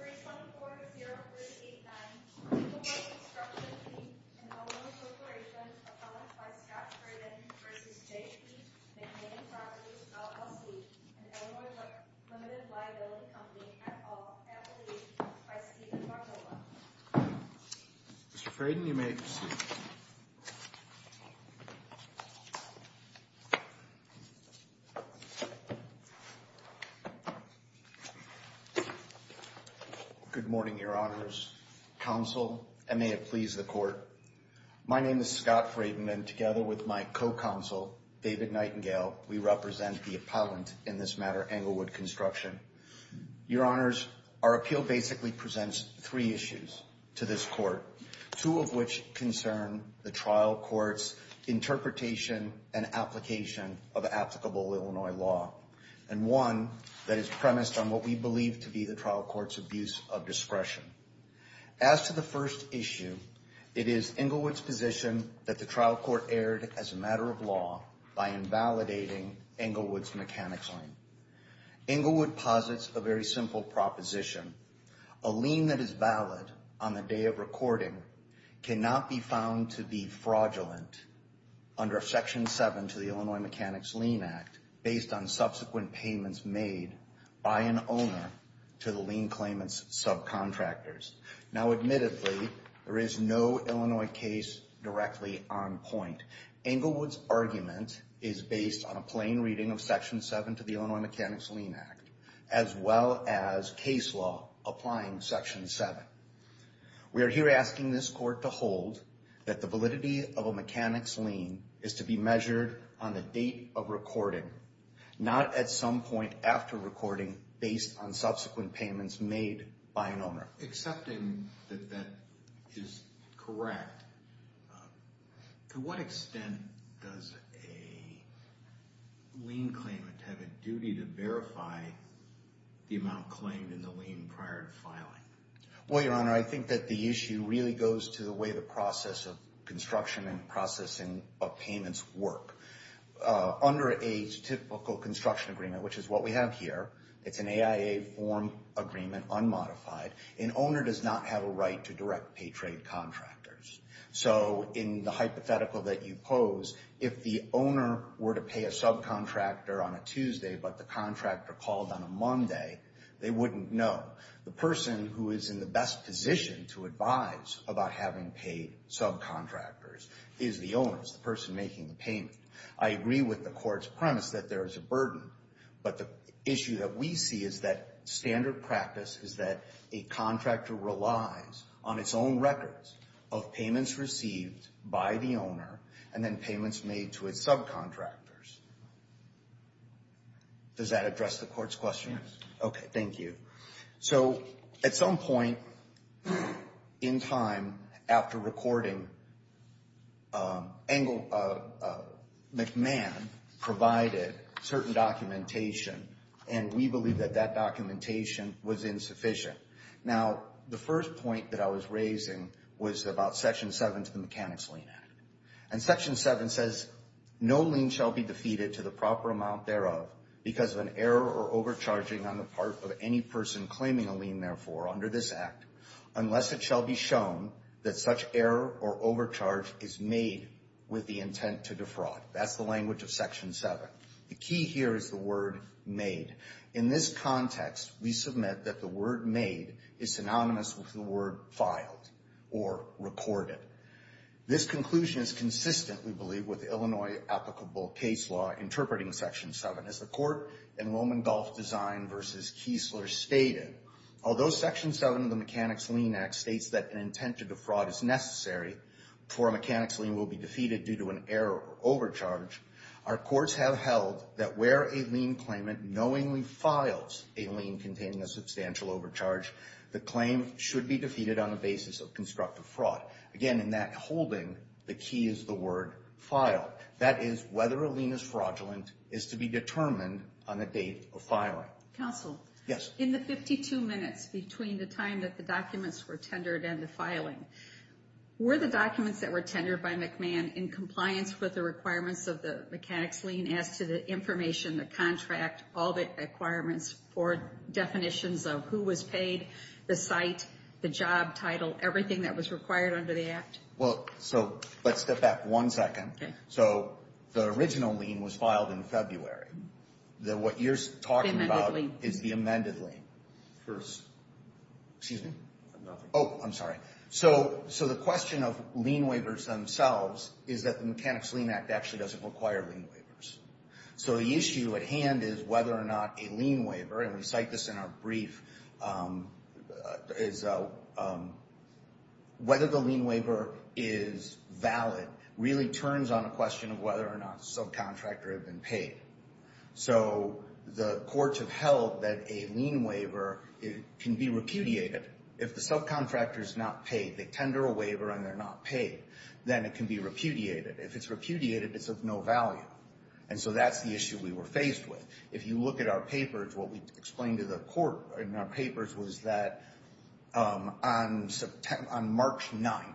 and Illinois Limited Liability Company, et al., Applebee's, v. Steven Barboa Good morning, Your Honors, Counsel, and may it please the Court. My name is Scott Friedman, and together with my co-counsel, David Nightingale, we represent the appellant in this matter, Englewood Construction. Your Honors, our appeal basically presents three issues to this Court, two of which concern the trial court's interpretation and application of applicable Illinois law, and one that is of discretion. As to the first issue, it is Englewood's position that the trial court erred as a matter of law by invalidating Englewood's mechanics lien. Englewood posits a very simple proposition. A lien that is valid on the day of recording cannot be found to be fraudulent under Section 7 to the Illinois Mechanics Lien Act based on subsequent payments made by an owner to the lien claimant's subcontractors. Now, admittedly, there is no Illinois case directly on point. Englewood's argument is based on a plain reading of Section 7 to the Illinois Mechanics Lien Act, as well as case law applying Section 7. We are here asking this Court to hold that the validity of a mechanics lien is to be by an owner. Accepting that that is correct, to what extent does a lien claimant have a duty to verify the amount claimed in the lien prior to filing? Well, Your Honor, I think that the issue really goes to the way the process of construction and processing of payments work. Under a typical construction agreement, which is what we have here, it's an AIA form agreement unmodified, an owner does not have a right to direct pay trade contractors. So in the hypothetical that you pose, if the owner were to pay a subcontractor on a Tuesday but the contractor called on a Monday, they wouldn't know. The person who is in the best position to advise about having paid subcontractors is the owners, the person making the payment. I agree with the Court's premise that there is a burden, but the issue that we see is that standard practice is that a contractor relies on its own records of payments received by the owner and then payments made to its subcontractors. Does that address the Court's question? Okay. Thank you. So at some point in time after recording, McMahon provided certain documentation and we believe that that documentation was insufficient. Now, the first point that I was raising was about Section 7 to the Mechanics Lien Act. And Section 7 says, no lien shall be defeated to the proper amount thereof because of an error or overcharging on the part of any person claiming a lien, therefore, under this Act, unless it shall be shown that such error or overcharge is made with the intent to defraud. That's the language of Section 7. The key here is the word made. In this context, we submit that the word made is synonymous with the word filed or recorded. This conclusion is consistent, we believe, with Illinois applicable case law interpreting Section 7. As the Court in Roman Gulf Design v. Kiesler stated, although Section 7 of the Mechanics Lien Act states that an intent to defraud is necessary before a Mechanics Lien will be defeated due to an error or overcharge, our courts have held that where a lien claimant knowingly files a lien containing a substantial overcharge, the claim should be defeated on the basis of constructive fraud. Again, in that holding, the key is the word filed. That is whether a lien is fraudulent is to be determined on the date of filing. Counsel, in the 52 minutes between the time that the documents were tendered and the filing, were the documents that were tendered by McMahon in compliance with the requirements of the Mechanics Lien as to the information, the contract, all the requirements for definitions of who was paid, the site, the job title, everything that was required under the Act? Well, so let's step back one second. So the original lien was filed in February. What you're talking about is the amended lien. First. Excuse me? Nothing. Oh, I'm sorry. So the question of lien waivers themselves is that the Mechanics Lien Act actually doesn't require lien waivers. So the issue at hand is whether or not a lien waiver, and we cite this in our brief, is whether the lien waiver is valid really turns on a question of whether or not the subcontractor had been paid. So the courts have held that a lien waiver can be repudiated. If the subcontractor is not paid, they tender a waiver and they're not paid, then it can be repudiated. If it's repudiated, it's of no value. And so that's the issue we were faced with. If you look at our papers, what we explained to the court in our papers was that on March 9th,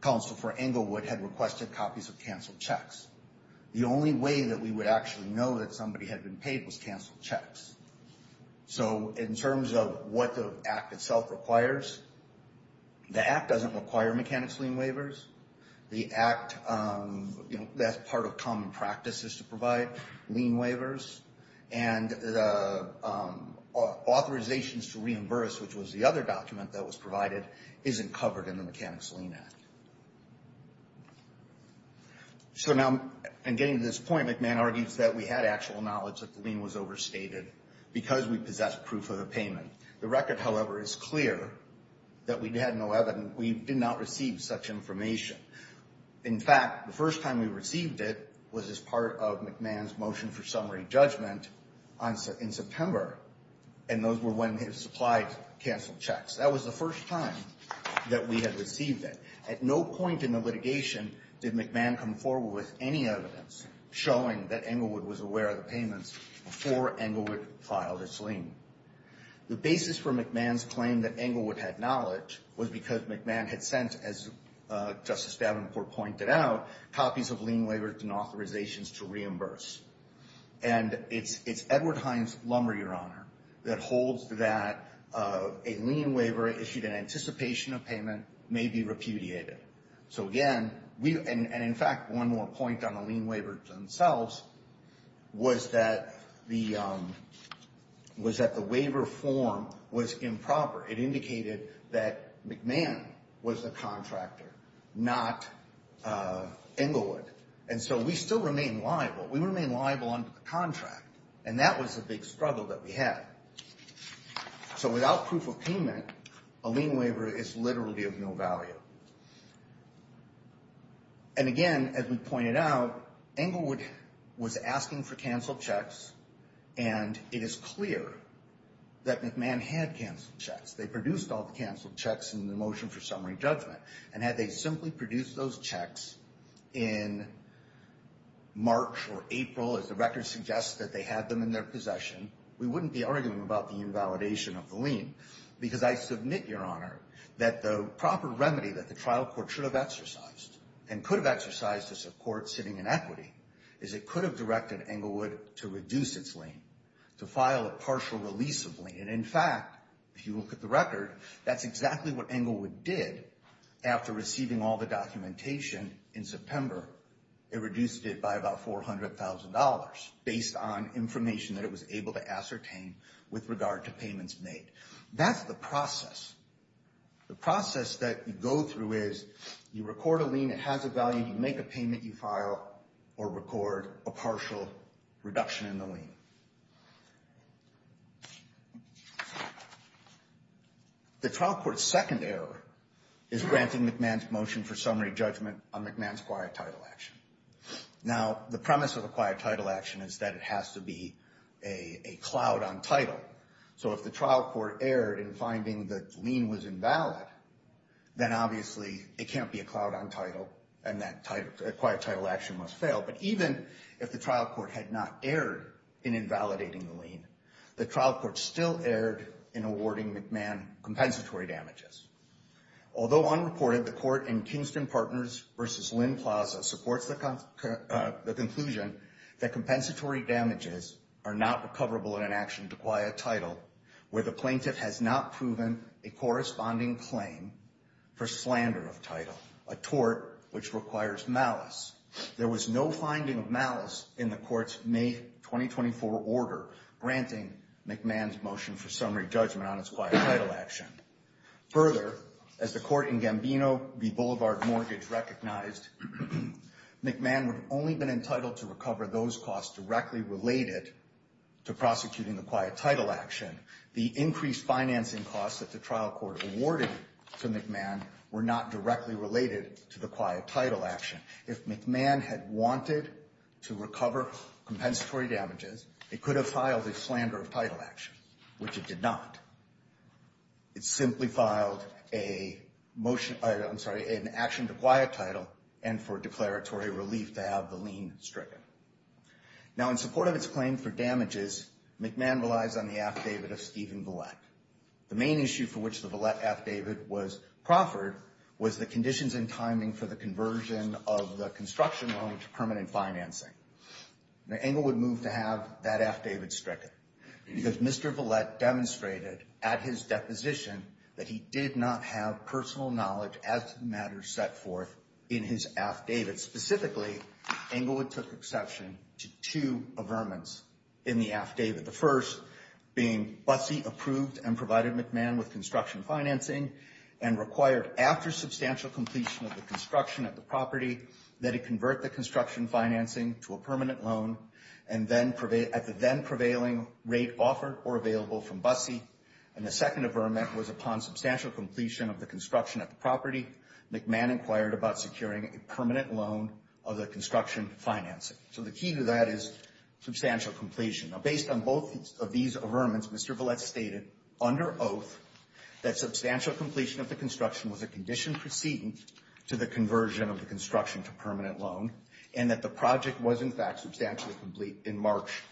counsel for Englewood had requested copies of canceled checks. The only way that we would actually know that somebody had been paid was canceled checks. So in terms of what the Act itself requires, the Act doesn't require Mechanics Lien waivers. The Act, you know, that's part of common practices to provide lien waivers. And authorizations to reimburse, which was the other document that was provided, isn't covered in the Mechanics Lien Act. So now, in getting to this point, McMahon argues that we had actual knowledge that the lien was overstated because we possessed proof of the payment. The record, however, is clear that we had no evidence. We did not receive such information. In fact, the first time we received it was as part of McMahon's motion for summary judgment in September, and those were when he supplied canceled checks. That was the first time that we had received it. At no point in the litigation did McMahon come forward with any evidence showing that Englewood was aware of the payments before Englewood filed its lien. The basis for McMahon's claim that Englewood had knowledge was because McMahon had sent, as Justice Davenport pointed out, copies of lien waivers and authorizations to reimburse. And it's Edward Hines' lumber, Your Honor, that holds that a lien waiver issued in anticipation of payment may be repudiated. So again, and in fact, one more point on the lien waivers themselves was that the waiver form was improper. It indicated that McMahon was the contractor, not Englewood. And so we still remain liable. We remain liable under the contract, and that was a big struggle that we had. So without proof of payment, a lien waiver is literally of no value. And again, as we pointed out, Englewood was asking for canceled checks, and it is clear that McMahon had canceled checks. They produced all the canceled checks in the motion for summary judgment, and had they simply produced those checks in March or April, as the record suggests that they had them in their possession, we wouldn't be arguing about the invalidation of the lien. Because I submit, Your Honor, that the proper remedy that the trial court should have exercised and could have exercised to support sitting inequity is it could have directed Englewood to reduce its lien, to file a partial release of lien. And in fact, if you look at the record, that's exactly what Englewood did. After receiving all the documentation in September, it reduced it by about $400,000, based on information that it was able to ascertain with regard to payments made. That's the process. The process that you go through is you record a lien, it has a value, you make a payment, you file or record a partial reduction in the lien. The trial court's second error is granting McMahon's motion for summary judgment on McMahon's quiet title action. Now, the premise of a quiet title action is that it has to be a cloud on title. So if the trial court erred in finding the lien was invalid, then obviously it can't be a cloud on title, and that quiet title action must fail. But even if the trial court had not erred in invalidating the lien, the trial court still erred in awarding McMahon compensatory damages. Although unreported, the court in Kingston Partners v. Lynn Plaza supports the conclusion that compensatory damages are not recoverable in an action to quiet title where the plaintiff has not proven a corresponding claim for slander of title, a tort which requires malice. There was no finding of malice in the court's May 2024 order granting McMahon's motion for summary judgment on its quiet title action. Further, as the court in Gambino v. Boulevard Mortgage recognized, McMahon would only have been entitled to recover those costs directly related to prosecuting the quiet title action. The increased financing costs that the trial court awarded to McMahon were not directly related to the quiet title action. If McMahon had wanted to recover compensatory damages, it could have filed a slander of title action, which it did not. It simply filed an action to quiet title and for declaratory relief to have the lien stricken. Now, in support of its claim for damages, McMahon relies on the affidavit of Stephen Vallette. The main issue for which the Vallette affidavit was proffered was the conditions and timing for the conversion of the construction loan to permanent financing. Now, Englewood moved to have that affidavit stricken because Mr. Vallette demonstrated at his deposition that he did not have personal knowledge as to the matters set forth in his affidavit. Specifically, Englewood took exception to two averments in the affidavit. The first being Buttsy approved and provided McMahon with construction financing and required after substantial completion of the construction at the property that it convert the construction financing to a permanent loan at the then prevailing rate offered or available from Buttsy. And the second averment was upon substantial completion of the construction at the property, McMahon inquired about securing a permanent loan of the construction financing. So the key to that is substantial completion. Now, based on both of these averments, Mr. Vallette stated under oath that substantial completion of the construction was a condition preceding to the conversion of the construction to permanent loan and that the project was, in fact, substantially complete in March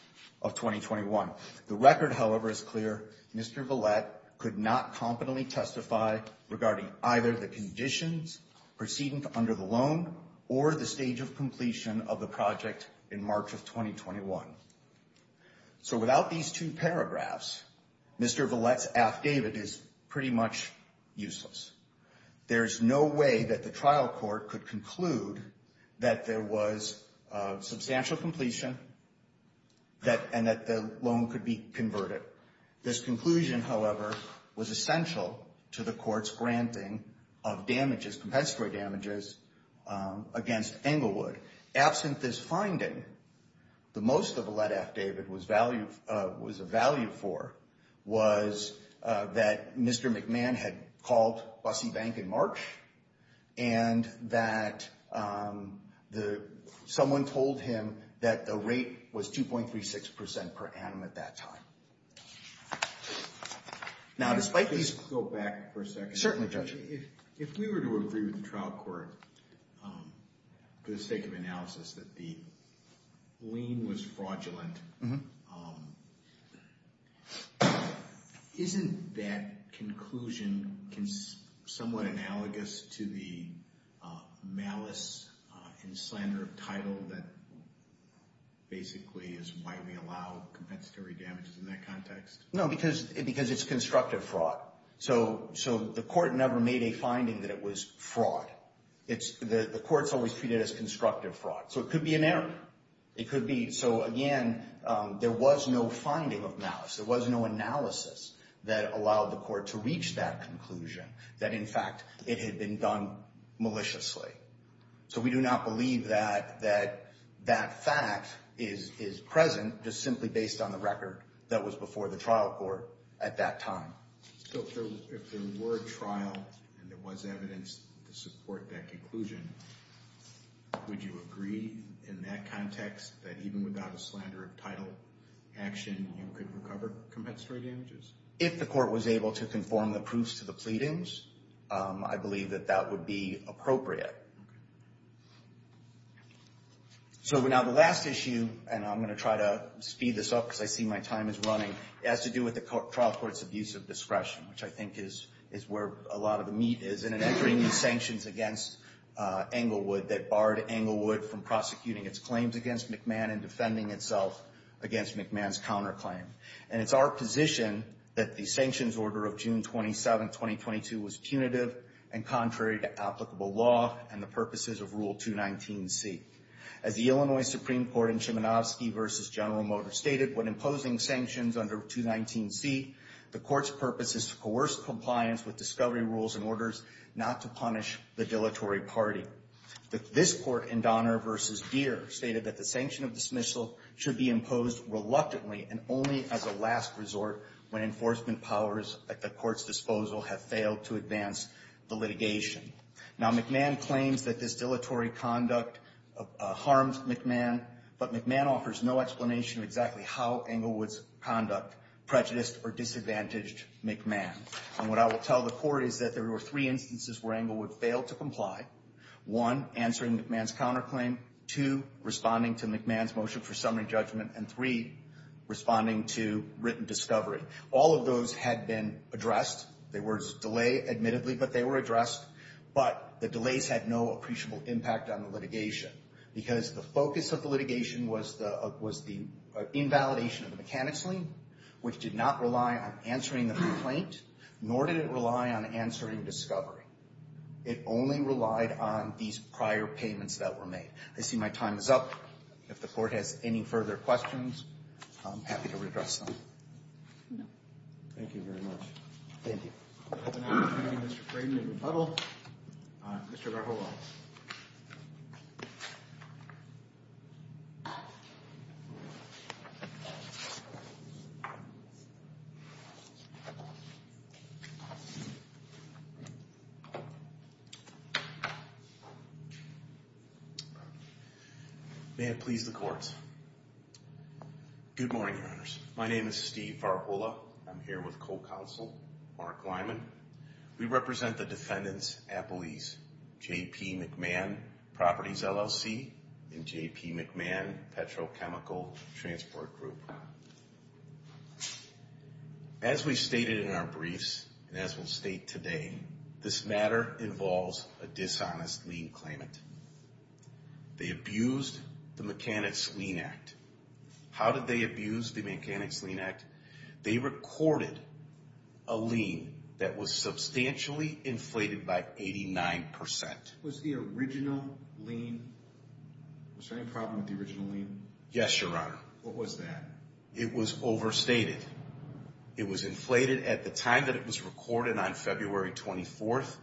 of 2021. The record, however, is clear. Mr. Vallette could not competently testify regarding either the conditions preceding under the loan or the stage of completion of the project in March of 2021. So without these two paragraphs, Mr. Vallette's affidavit is pretty much useless. There is no way that the trial court could conclude that there was substantial completion and that the loan could be converted. This conclusion, however, was essential to the court's granting of damages, compensatory damages against Englewood. Absent this finding, the most that Vallette affidavit was a value for was that Mr. McMahon had called Bussy Bank in March and that someone told him that the rate was 2.36% per annum at that time. Now, despite these... Go back for a second. Certainly, Judge. If we were to agree with the trial court for the sake of analysis that the lien was fraudulent, isn't that conclusion somewhat analogous to the malice and slander of title that basically is why we allow compensatory damages in that context? No, because it's constructive fraud. So the court never made a finding that it was fraud. The courts always treat it as constructive fraud. So it could be an error. It could be. So, again, there was no finding of malice. There was no analysis that allowed the court to reach that conclusion, that, in fact, it had been done maliciously. So we do not believe that that fact is present just simply based on the record that was before the trial court at that time. So if there were a trial and there was evidence to support that conclusion, would you agree in that context that even without a slander of title action, you could recover compensatory damages? If the court was able to conform the proofs to the pleadings, I believe that that would be appropriate. So now the last issue, and I'm going to try to speed this up because I see my time is running, has to do with the trial court's abuse of discretion, which I think is where a lot of the meat is, and in entering these sanctions against Englewood that barred Englewood from prosecuting its claims against McMahon and defending itself against McMahon's counterclaim. And it's our position that the sanctions order of June 27, 2022, was punitive and contrary to applicable law and the purposes of Rule 219C. As the Illinois Supreme Court in Chimanovsky v. General Motors stated, when imposing sanctions under 219C, the court's purpose is to coerce compliance with discovery rules and orders not to punish the dilatory party. This court in Donner v. Deere stated that the sanction of dismissal should be imposed reluctantly and only as a last resort when enforcement powers at the court's disposal have failed to advance the litigation. Now McMahon claims that this dilatory conduct harms McMahon, but McMahon offers no explanation of exactly how Englewood's conduct prejudiced or disadvantaged McMahon. And what I will tell the court is that there were three instances where Englewood failed to comply. One, answering McMahon's counterclaim. Two, responding to McMahon's motion for summary judgment. And three, responding to written discovery. All of those had been addressed. There was a delay, admittedly, but they were addressed. But the delays had no appreciable impact on the litigation because the focus of the litigation was the invalidation of the mechanics lien, which did not rely on answering the complaint, nor did it rely on answering discovery. It only relied on these prior payments that were made. I see my time is up. If the court has any further questions, I'm happy to address them. No. Thank you very much. Thank you. Mr. Braden in rebuttal. Mr. Varhola. May it please the court. Good morning, Your Honors. My name is Steve Varhola. I'm here with co-counsel Mark Lyman. We represent the defendants at police, J.P. McMahon, Properties, LLC, and J.P. McMahon, Petrochemical Transport Group. As we stated in our briefs and as we'll state today, this matter involves a dishonest lien claimant. They abused the Mechanics Lien Act. How did they abuse the Mechanics Lien Act? They recorded a lien that was substantially inflated by 89%. Was the original lien, was there any problem with the original lien? Yes, Your Honor. What was that? It was overstated. It was inflated at the time that it was recorded on February 24th,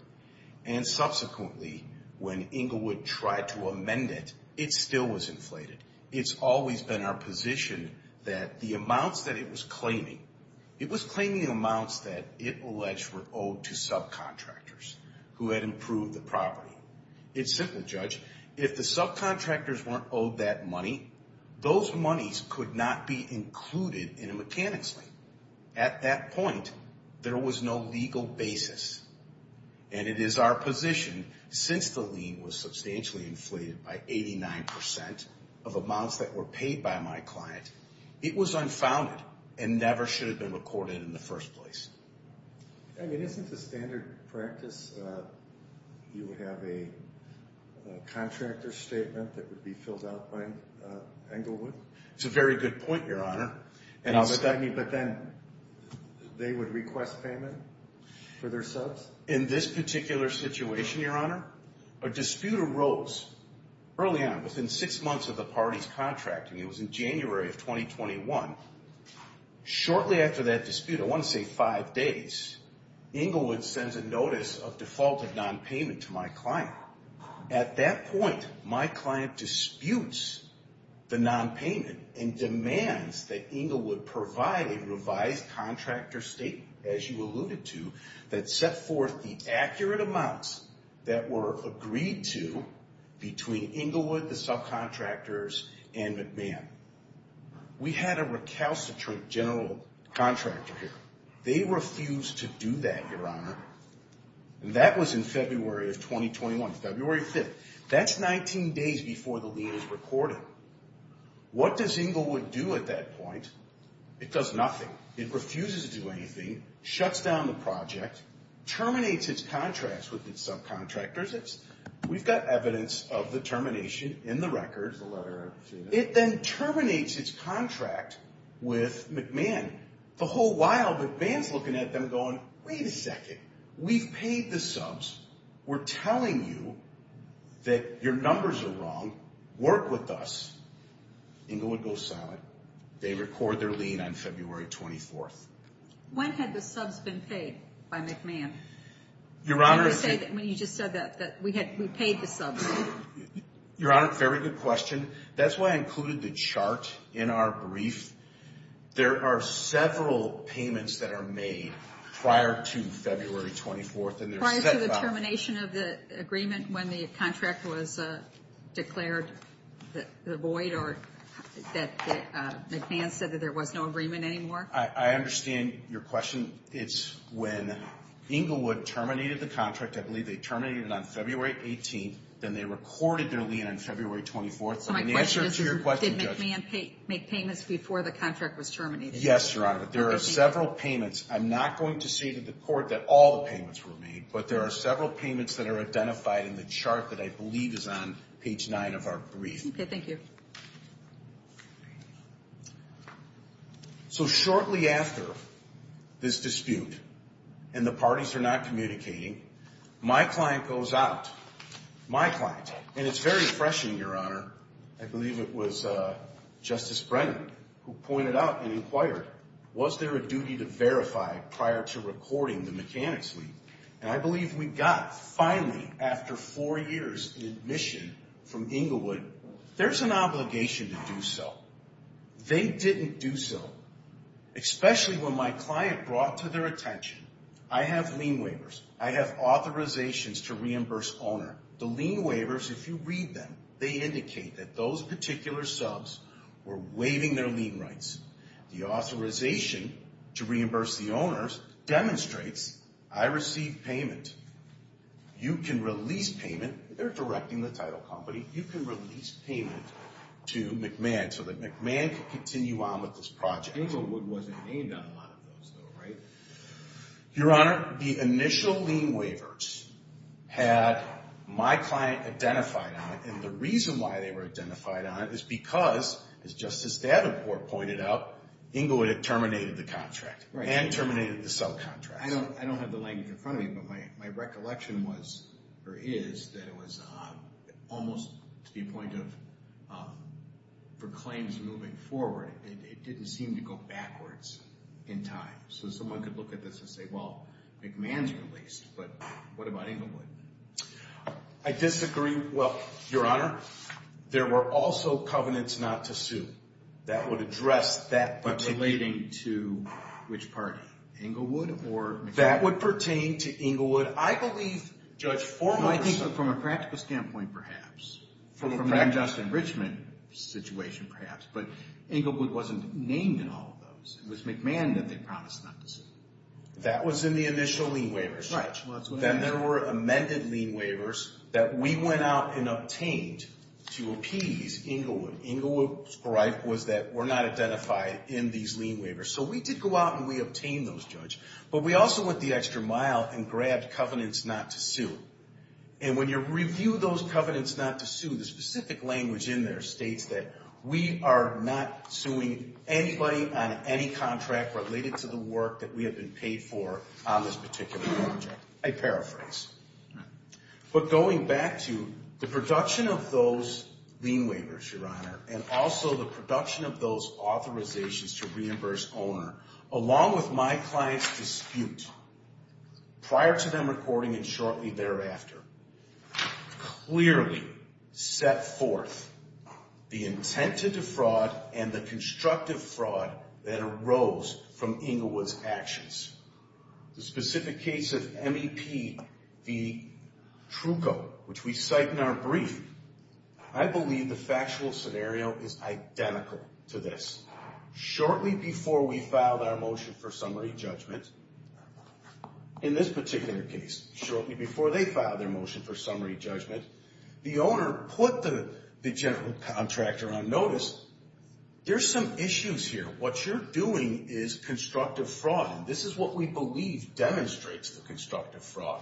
and subsequently when Englewood tried to amend it, it still was inflated. It's always been our position that the amounts that it was claiming, it was claiming amounts that it alleged were owed to subcontractors who had improved the property. It's simple, Judge. If the subcontractors weren't owed that money, those monies could not be included in a Mechanics Lien. At that point, there was no legal basis, and it is our position since the lien was substantially inflated by 89% of amounts that were paid by my client, it was unfounded and never should have been recorded in the first place. Isn't the standard practice you would have a contractor statement that would be filled out by Englewood? It's a very good point, Your Honor. But then they would request payment for their subs? In this particular situation, Your Honor, a dispute arose early on within six months of the parties contracting. It was in January of 2021. Shortly after that dispute, I want to say five days, Englewood sends a notice of defaulted nonpayment to my client. At that point, my client disputes the nonpayment and demands that Englewood provide a revised contractor statement, as you alluded to, that set forth the accurate amounts that were agreed to between Englewood, the subcontractors, and McMahon. We had a recalcitrant general contractor here. They refused to do that, Your Honor. That was in February of 2021, February 5th. That's 19 days before the lien is recorded. What does Englewood do at that point? It does nothing. It refuses to do anything, shuts down the project, terminates its contracts with its subcontractors. We've got evidence of the termination in the records. It then terminates its contract with McMahon. The whole while, McMahon's looking at them going, Wait a second, we've paid the subs. We're telling you that your numbers are wrong. Work with us. Englewood goes silent. They record their lien on February 24th. When had the subs been paid by McMahon? You just said that we paid the subs. Your Honor, very good question. That's why I included the chart in our brief. There are several payments that are made prior to February 24th. Prior to the termination of the agreement when the contract was declared void or that McMahon said that there was no agreement anymore? I understand your question. It's when Englewood terminated the contract. I believe they terminated it on February 18th. Then they recorded their lien on February 24th. So my question is, did McMahon make payments before the contract was terminated? Yes, Your Honor, but there are several payments. I'm not going to say to the court that all the payments were made, but there are several payments that are identified in the chart that I believe is on page 9 of our brief. Okay, thank you. So shortly after this dispute and the parties are not communicating, my client goes out, my client, and it's very refreshing, Your Honor. I believe it was Justice Brennan who pointed out and inquired, was there a duty to verify prior to recording the mechanics lien? And I believe we got, finally, after four years in admission from Englewood, there's an obligation to do so. They didn't do so, especially when my client brought to their attention, I have lien waivers, I have authorizations to reimburse owner. The lien waivers, if you read them, they indicate that those particular subs were waiving their lien rights. The authorization to reimburse the owners demonstrates I received payment. You can release payment. They're directing the title company. You can release payment to McMahon so that McMahon can continue on with this project. Englewood wasn't named on a lot of those, though, right? Your Honor, the initial lien waivers had my client identified on it, and the reason why they were identified on it is because, as Justice Davenport pointed out, Englewood had terminated the contract and terminated the subcontract. I don't have the language in front of me, but my recollection is that it was almost to the point of, for claims moving forward, it didn't seem to go backwards in time. So someone could look at this and say, well, McMahon's released, but what about Englewood? I disagree. Well, Your Honor, there were also covenants not to sue. That would address that but relating to which party? Englewood or McMahon? That would pertain to Englewood. I believe Judge Foreman said. I think from a practical standpoint, perhaps, from an unjust enrichment situation, perhaps, but Englewood wasn't named in all of those. It was McMahon that they promised not to sue. That was in the initial lien waivers. Right. Then there were amended lien waivers that we went out and obtained to appease Englewood. Englewood's right was that we're not identified in these lien waivers. So we did go out and we obtained those, Judge. But we also went the extra mile and grabbed covenants not to sue. And when you review those covenants not to sue, the specific language in there states that we are not suing anybody on any contract related to the work that we have been paid for on this particular project. I paraphrase. But going back to the production of those lien waivers, Your Honor, and also the production of those authorizations to reimburse owner, along with my client's dispute prior to them recording and shortly thereafter, clearly set forth the intent to defraud and the constructive fraud that arose from Englewood's actions. The specific case of MEP v. Trucco, which we cite in our brief, I believe the factual scenario is identical to this. Shortly before we filed our motion for summary judgment, in this particular case, shortly before they filed their motion for summary judgment, the owner put the general contractor on notice. There's some issues here. What you're doing is constructive fraud. This is what we believe demonstrates the constructive fraud.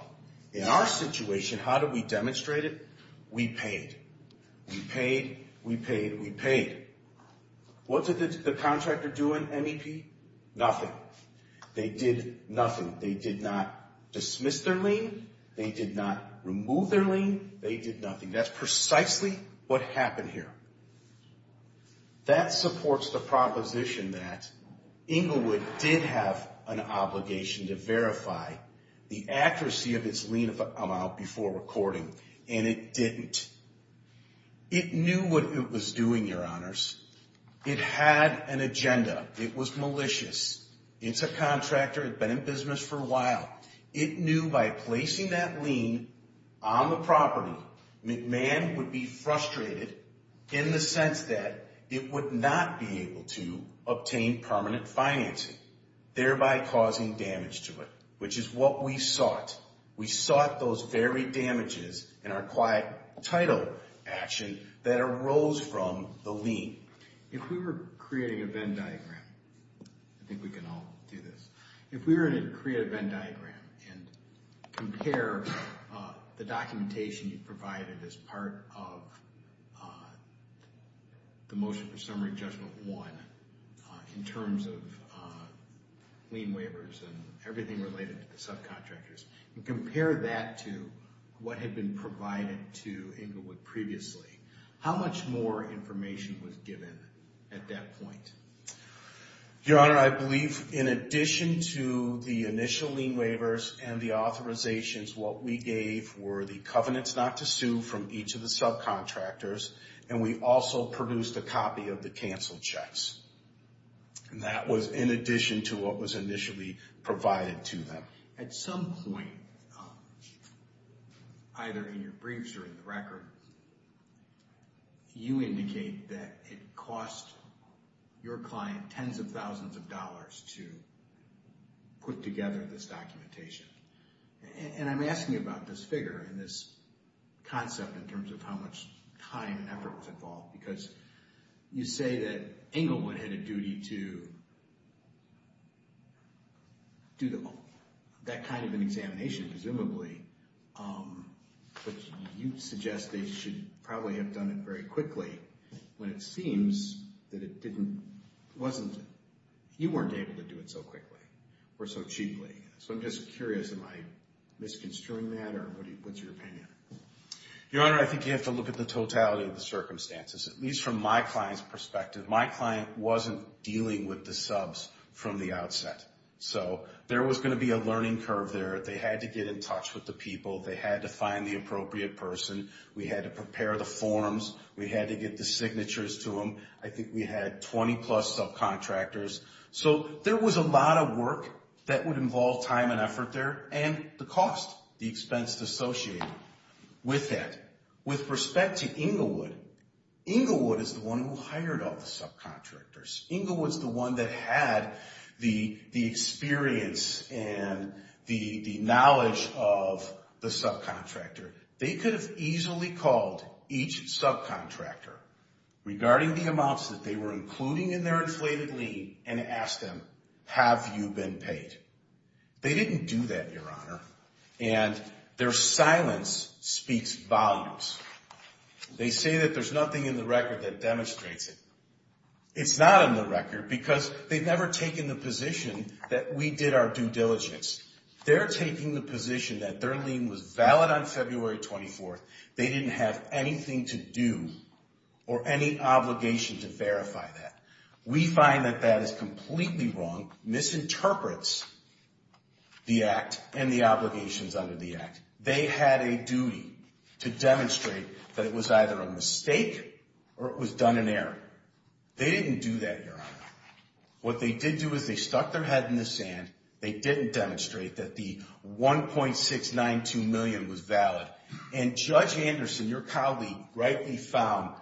In our situation, how do we demonstrate it? We paid. We paid, we paid, we paid. What did the contractor do in MEP? They did nothing. They did not dismiss their lien. They did not remove their lien. They did nothing. That's precisely what happened here. That supports the proposition that Englewood did have an obligation to verify the accuracy of its lien amount before recording, and it didn't. It knew what it was doing, Your Honors. It had an agenda. It was malicious. It's a contractor. It had been in business for a while. It knew by placing that lien on the property, McMahon would be frustrated in the sense that it would not be able to obtain permanent financing, thereby causing damage to it, which is what we sought. We sought those very damages in our quiet title action that arose from the lien. If we were creating a Venn diagram, I think we can all do this. If we were to create a Venn diagram and compare the documentation you provided as part of the motion for summary judgment one in terms of lien waivers and subcontractors and everything related to the subcontractors, and compare that to what had been provided to Englewood previously, how much more information was given at that point? Your Honor, I believe in addition to the initial lien waivers and the authorizations, what we gave were the covenants not to sue from each of the subcontractors, and we also produced a copy of the cancel checks. And that was in addition to what was initially provided to them. At some point, either in your briefs or in the record, you indicate that it cost your client tens of thousands of dollars to put together this documentation. And I'm asking about this figure and this concept in terms of how much time and effort was involved, because you say that Englewood had a duty to do that kind of an examination, presumably, but you suggest they should probably have done it very quickly when it seems that it wasn't. You weren't able to do it so quickly or so cheaply. So I'm just curious, am I misconstruing that, or what's your opinion? Your Honor, I think you have to look at the totality of the circumstances, at least from my client's perspective. My client wasn't dealing with the subs from the outset. So there was going to be a learning curve there. They had to get in touch with the people. They had to find the appropriate person. We had to prepare the forms. We had to get the signatures to them. I think we had 20-plus subcontractors. So there was a lot of work that would involve time and effort there, and the cost, the expense associated with that. With respect to Englewood, Englewood is the one who hired all the subcontractors. Englewood's the one that had the experience and the knowledge of the subcontractor. They could have easily called each subcontractor regarding the amounts that they were including in their inflated lien and asked them, have you been paid? They didn't do that, Your Honor, and their silence speaks volumes. They say that there's nothing in the record that demonstrates it. It's not in the record because they've never taken the position that we did our due diligence. They're taking the position that their lien was valid on February 24th. They didn't have anything to do or any obligation to verify that. We find that that is completely wrong, misinterprets the Act and the obligations under the Act. They had a duty to demonstrate that it was either a mistake or it was done in error. They didn't do that, Your Honor. What they did do is they stuck their head in the sand, they didn't demonstrate that the $1.692 million was valid, and Judge Anderson, your colleague, rightly found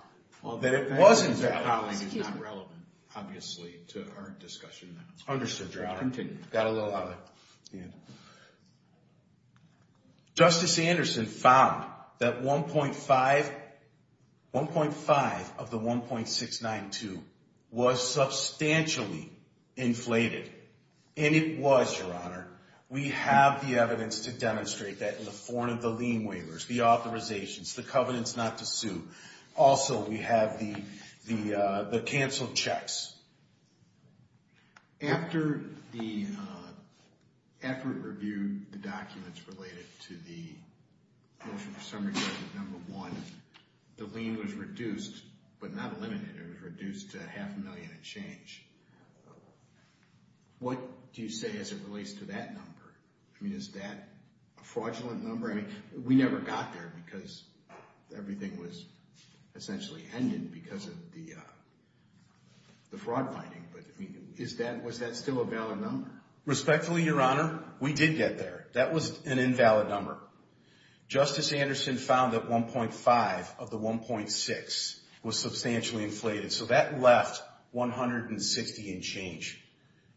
that it wasn't that. My colleague is not relevant, obviously, to our discussion now. Understood, Your Honor. Got a little out of hand. Justice Anderson found that $1.5 of the $1.692 was substantially inflated, and it was, Your Honor. We have the evidence to demonstrate that in the form of the lien waivers, the authorizations, the covenants not to sue. Also, we have the canceled checks. After we reviewed the documents related to the motion for summary judgment number one, the lien was reduced, but not eliminated. It was reduced to a half a million and change. What do you say as it relates to that number? I mean, is that a fraudulent number? I mean, we never got there because everything was essentially ended because of the fraud finding, but was that still a valid number? Respectfully, Your Honor, we did get there. That was an invalid number. Justice Anderson found that $1.5 of the $1.6 was substantially inflated, so that left $160 and change.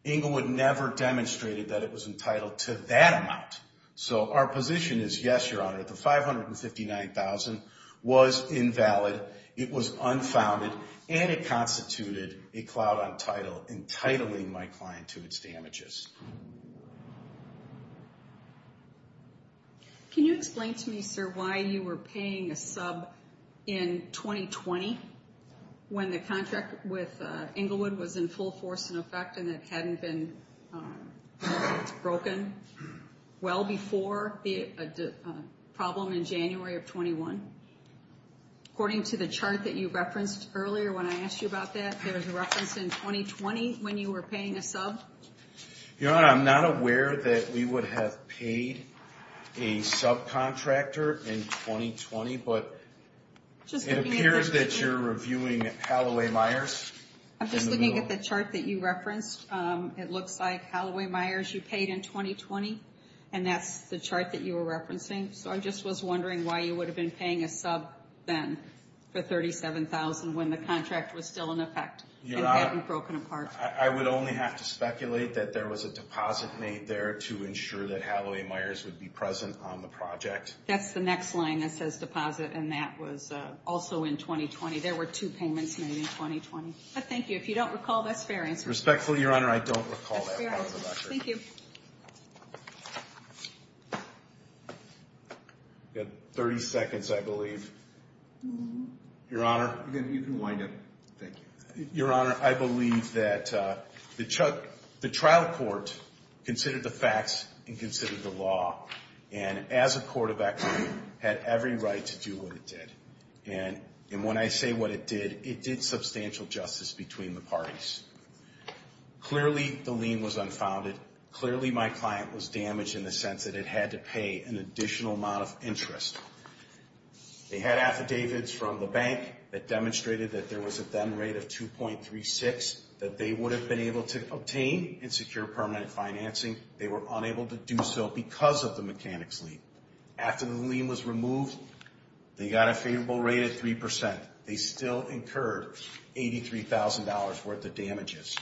Englewood never demonstrated that it was entitled to that amount, so our position is, yes, Your Honor, the $559,000 was invalid, it was unfounded, and it constituted a cloud on title, entitling my client to its damages. Can you explain to me, sir, why you were paying a sub in 2020 when the contract with Englewood was in full force in effect and it hadn't been broken? Well before the problem in January of 21. According to the chart that you referenced earlier when I asked you about that, there was a reference in 2020 when you were paying a sub? Your Honor, I'm not aware that we would have paid a subcontractor in 2020, but it appears that you're reviewing Halloway Myers. I'm just looking at the chart that you referenced. It looks like Halloway Myers you paid in 2020, and that's the chart that you were referencing. So I just was wondering why you would have been paying a sub then for $37,000 when the contract was still in effect and hadn't broken apart. Your Honor, I would only have to speculate that there was a deposit made there to ensure that Halloway Myers would be present on the project. That's the next line that says deposit, and that was also in 2020. There were two payments made in 2020. Thank you. If you don't recall, that's fair answer. Respectfully, Your Honor, I don't recall that. Thank you. You have 30 seconds, I believe. Your Honor. You can wind up. Thank you. Your Honor, I believe that the trial court considered the facts and considered the law, and as a court of equity, had every right to do what it did. And when I say what it did, it did substantial justice between the parties. Clearly, the lien was unfounded. Clearly, my client was damaged in the sense that it had to pay an additional amount of interest. They had affidavits from the bank that demonstrated that there was a then rate of 2.36 that they would have been able to obtain and secure permanent financing. They were unable to do so because of the mechanics lien. After the lien was removed, they got a favorable rate of 3%. They still incurred $83,000 worth of damages.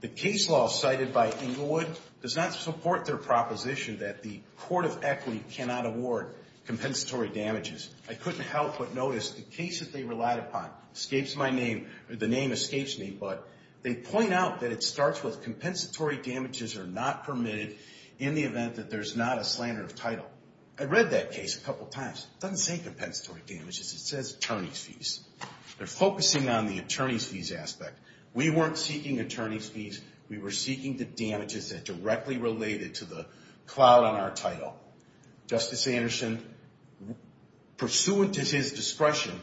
The case law cited by Englewood does not support their proposition that the court of equity cannot award compensatory damages. I couldn't help but notice the case that they relied upon escapes my name, or the name escapes me, but they point out that it starts with compensatory damages are not permitted in the event that there's not a slander of title. I read that case a couple times. It doesn't say compensatory damages. It says attorney's fees. They're focusing on the attorney's fees aspect. We weren't seeking attorney's fees. We were seeking the damages that directly related to the clout on our title. Justice Anderson, pursuant to his discretion,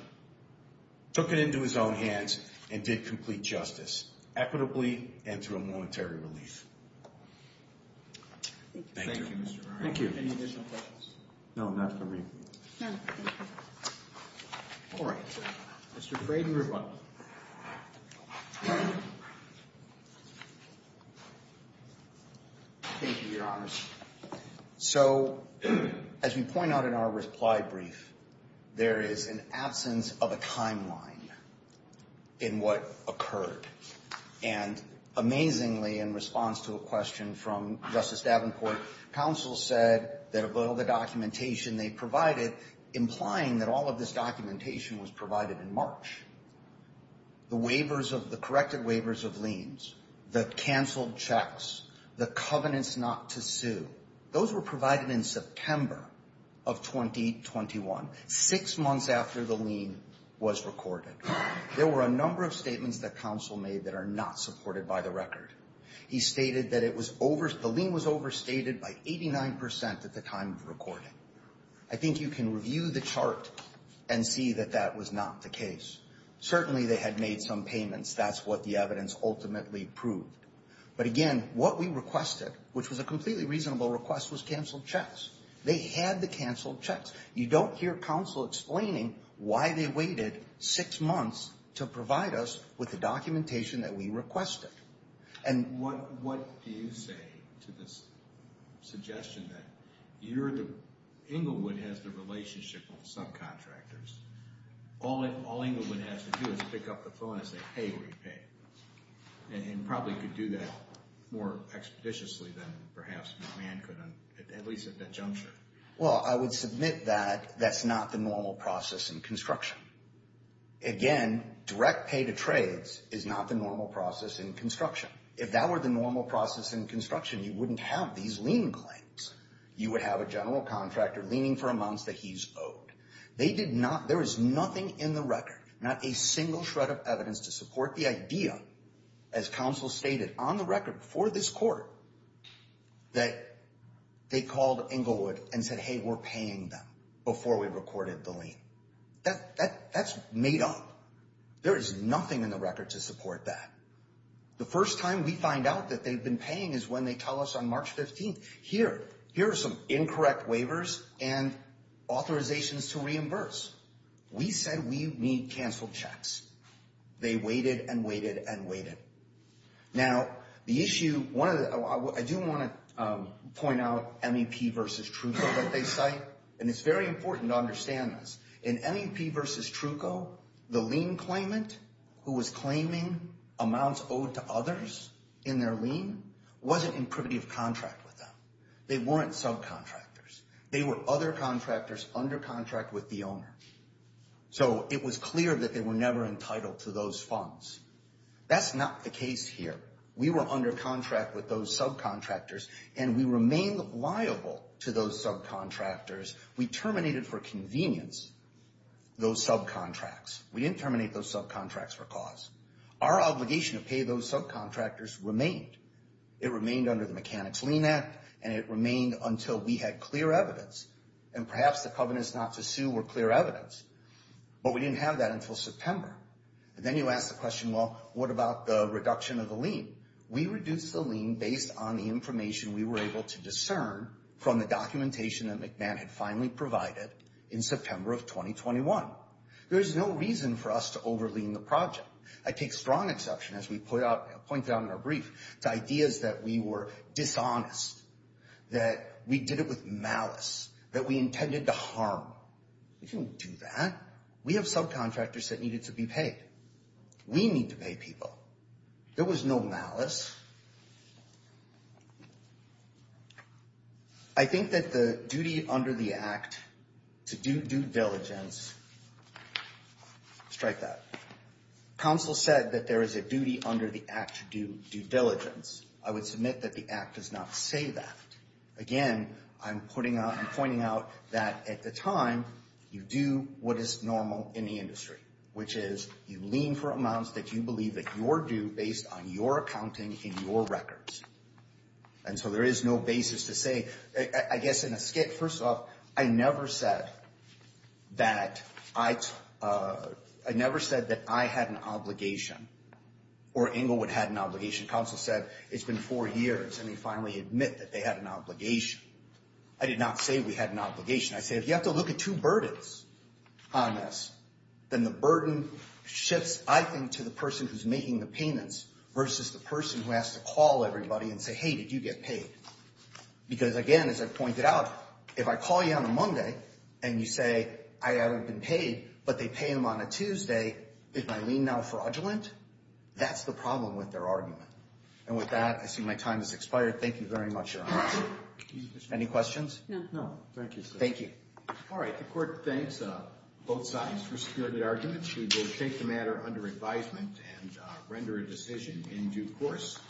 took it into his own hands and did complete justice, equitably and through a monetary relief. Thank you. Thank you, Mr. Ryan. Any additional questions? No, not for me. No, thank you. All right. Mr. Frayden, you're up. Thank you, Your Honors. So as we point out in our reply brief, there is an absence of a timeline in what occurred. And amazingly, in response to a question from Justice Davenport, counsel said that of all the documentation they provided, implying that all of this documentation was provided in March, the waivers of the corrected waivers of liens, the canceled checks, the covenants not to sue, those were provided in September of 2021, six months after the lien was recorded. There were a number of statements that counsel made that are not supported by the record. He stated that the lien was overstated by 89% at the time of recording. I think you can review the chart and see that that was not the case. Certainly, they had made some payments. That's what the evidence ultimately proved. But again, what we requested, which was a completely reasonable request, was canceled checks. They had the canceled checks. You don't hear counsel explaining why they waited six months to provide us with the documentation that we requested. And what do you say to this suggestion that you're the – Englewood has the relationship with subcontractors. All Englewood has to do is pick up the phone and say, hey, where do you pay? And probably could do that more expeditiously than perhaps McMahon could, at least at that juncture. Well, I would submit that that's not the normal process in construction. Again, direct pay to trades is not the normal process in construction. If that were the normal process in construction, you wouldn't have these lien claims. You would have a general contractor leaning for a month that he's owed. They did not – there is nothing in the record, not a single shred of evidence to support the idea, as counsel stated on the record for this court, that they called Englewood and said, hey, we're paying them before we recorded the lien. That's made up. There is nothing in the record to support that. The first time we find out that they've been paying is when they tell us on March 15th. Here are some incorrect waivers and authorizations to reimburse. We said we need canceled checks. They waited and waited and waited. Now, the issue – I do want to point out MEP versus Truco that they cite, and it's very important to understand this. In MEP versus Truco, the lien claimant who was claiming amounts owed to others in their lien wasn't in privity of contract with them. They weren't subcontractors. They were other contractors under contract with the owner. So it was clear that they were never entitled to those funds. That's not the case here. We were under contract with those subcontractors, and we remained liable to those subcontractors. We terminated for convenience those subcontracts. We didn't terminate those subcontracts for cause. Our obligation to pay those subcontractors remained. It remained under the Mechanics Lien Act, and it remained until we had clear evidence. And perhaps the covenants not to sue were clear evidence, but we didn't have that until September. And then you ask the question, well, what about the reduction of the lien? We reduced the lien based on the information we were able to discern from the documentation that McMahon had finally provided in September of 2021. There is no reason for us to overlien the project. I take strong exception, as we pointed out in our brief, to ideas that we were dishonest, that we did it with malice, that we intended to harm. We didn't do that. We have subcontractors that needed to be paid. We need to pay people. There was no malice. I think that the duty under the Act to do due diligence, strike that. Counsel said that there is a duty under the Act to do due diligence. I would submit that the Act does not say that. Again, I'm pointing out that at the time, you do what is normal in the industry, which is you lien for amounts that you believe that you're due based on your accounting and your records. And so there is no basis to say. I guess in a skit, first off, I never said that I had an obligation or Englewood had an obligation. Counsel said it's been four years, and they finally admit that they had an obligation. I did not say we had an obligation. I say if you have to look at two burdens on this, then the burden shifts, I think, to the person who's making the payments versus the person who has to call everybody and say, hey, did you get paid? Because, again, as I pointed out, if I call you on a Monday and you say, I haven't been paid, but they pay him on a Tuesday, did my lien now fraudulent? That's the problem with their argument. And with that, I see my time has expired. Thank you very much, Your Honor. Any questions? No. Thank you, sir. Thank you. All right. The court thinks both sides for security arguments. We will take the matter under advisement and render a decision in due course.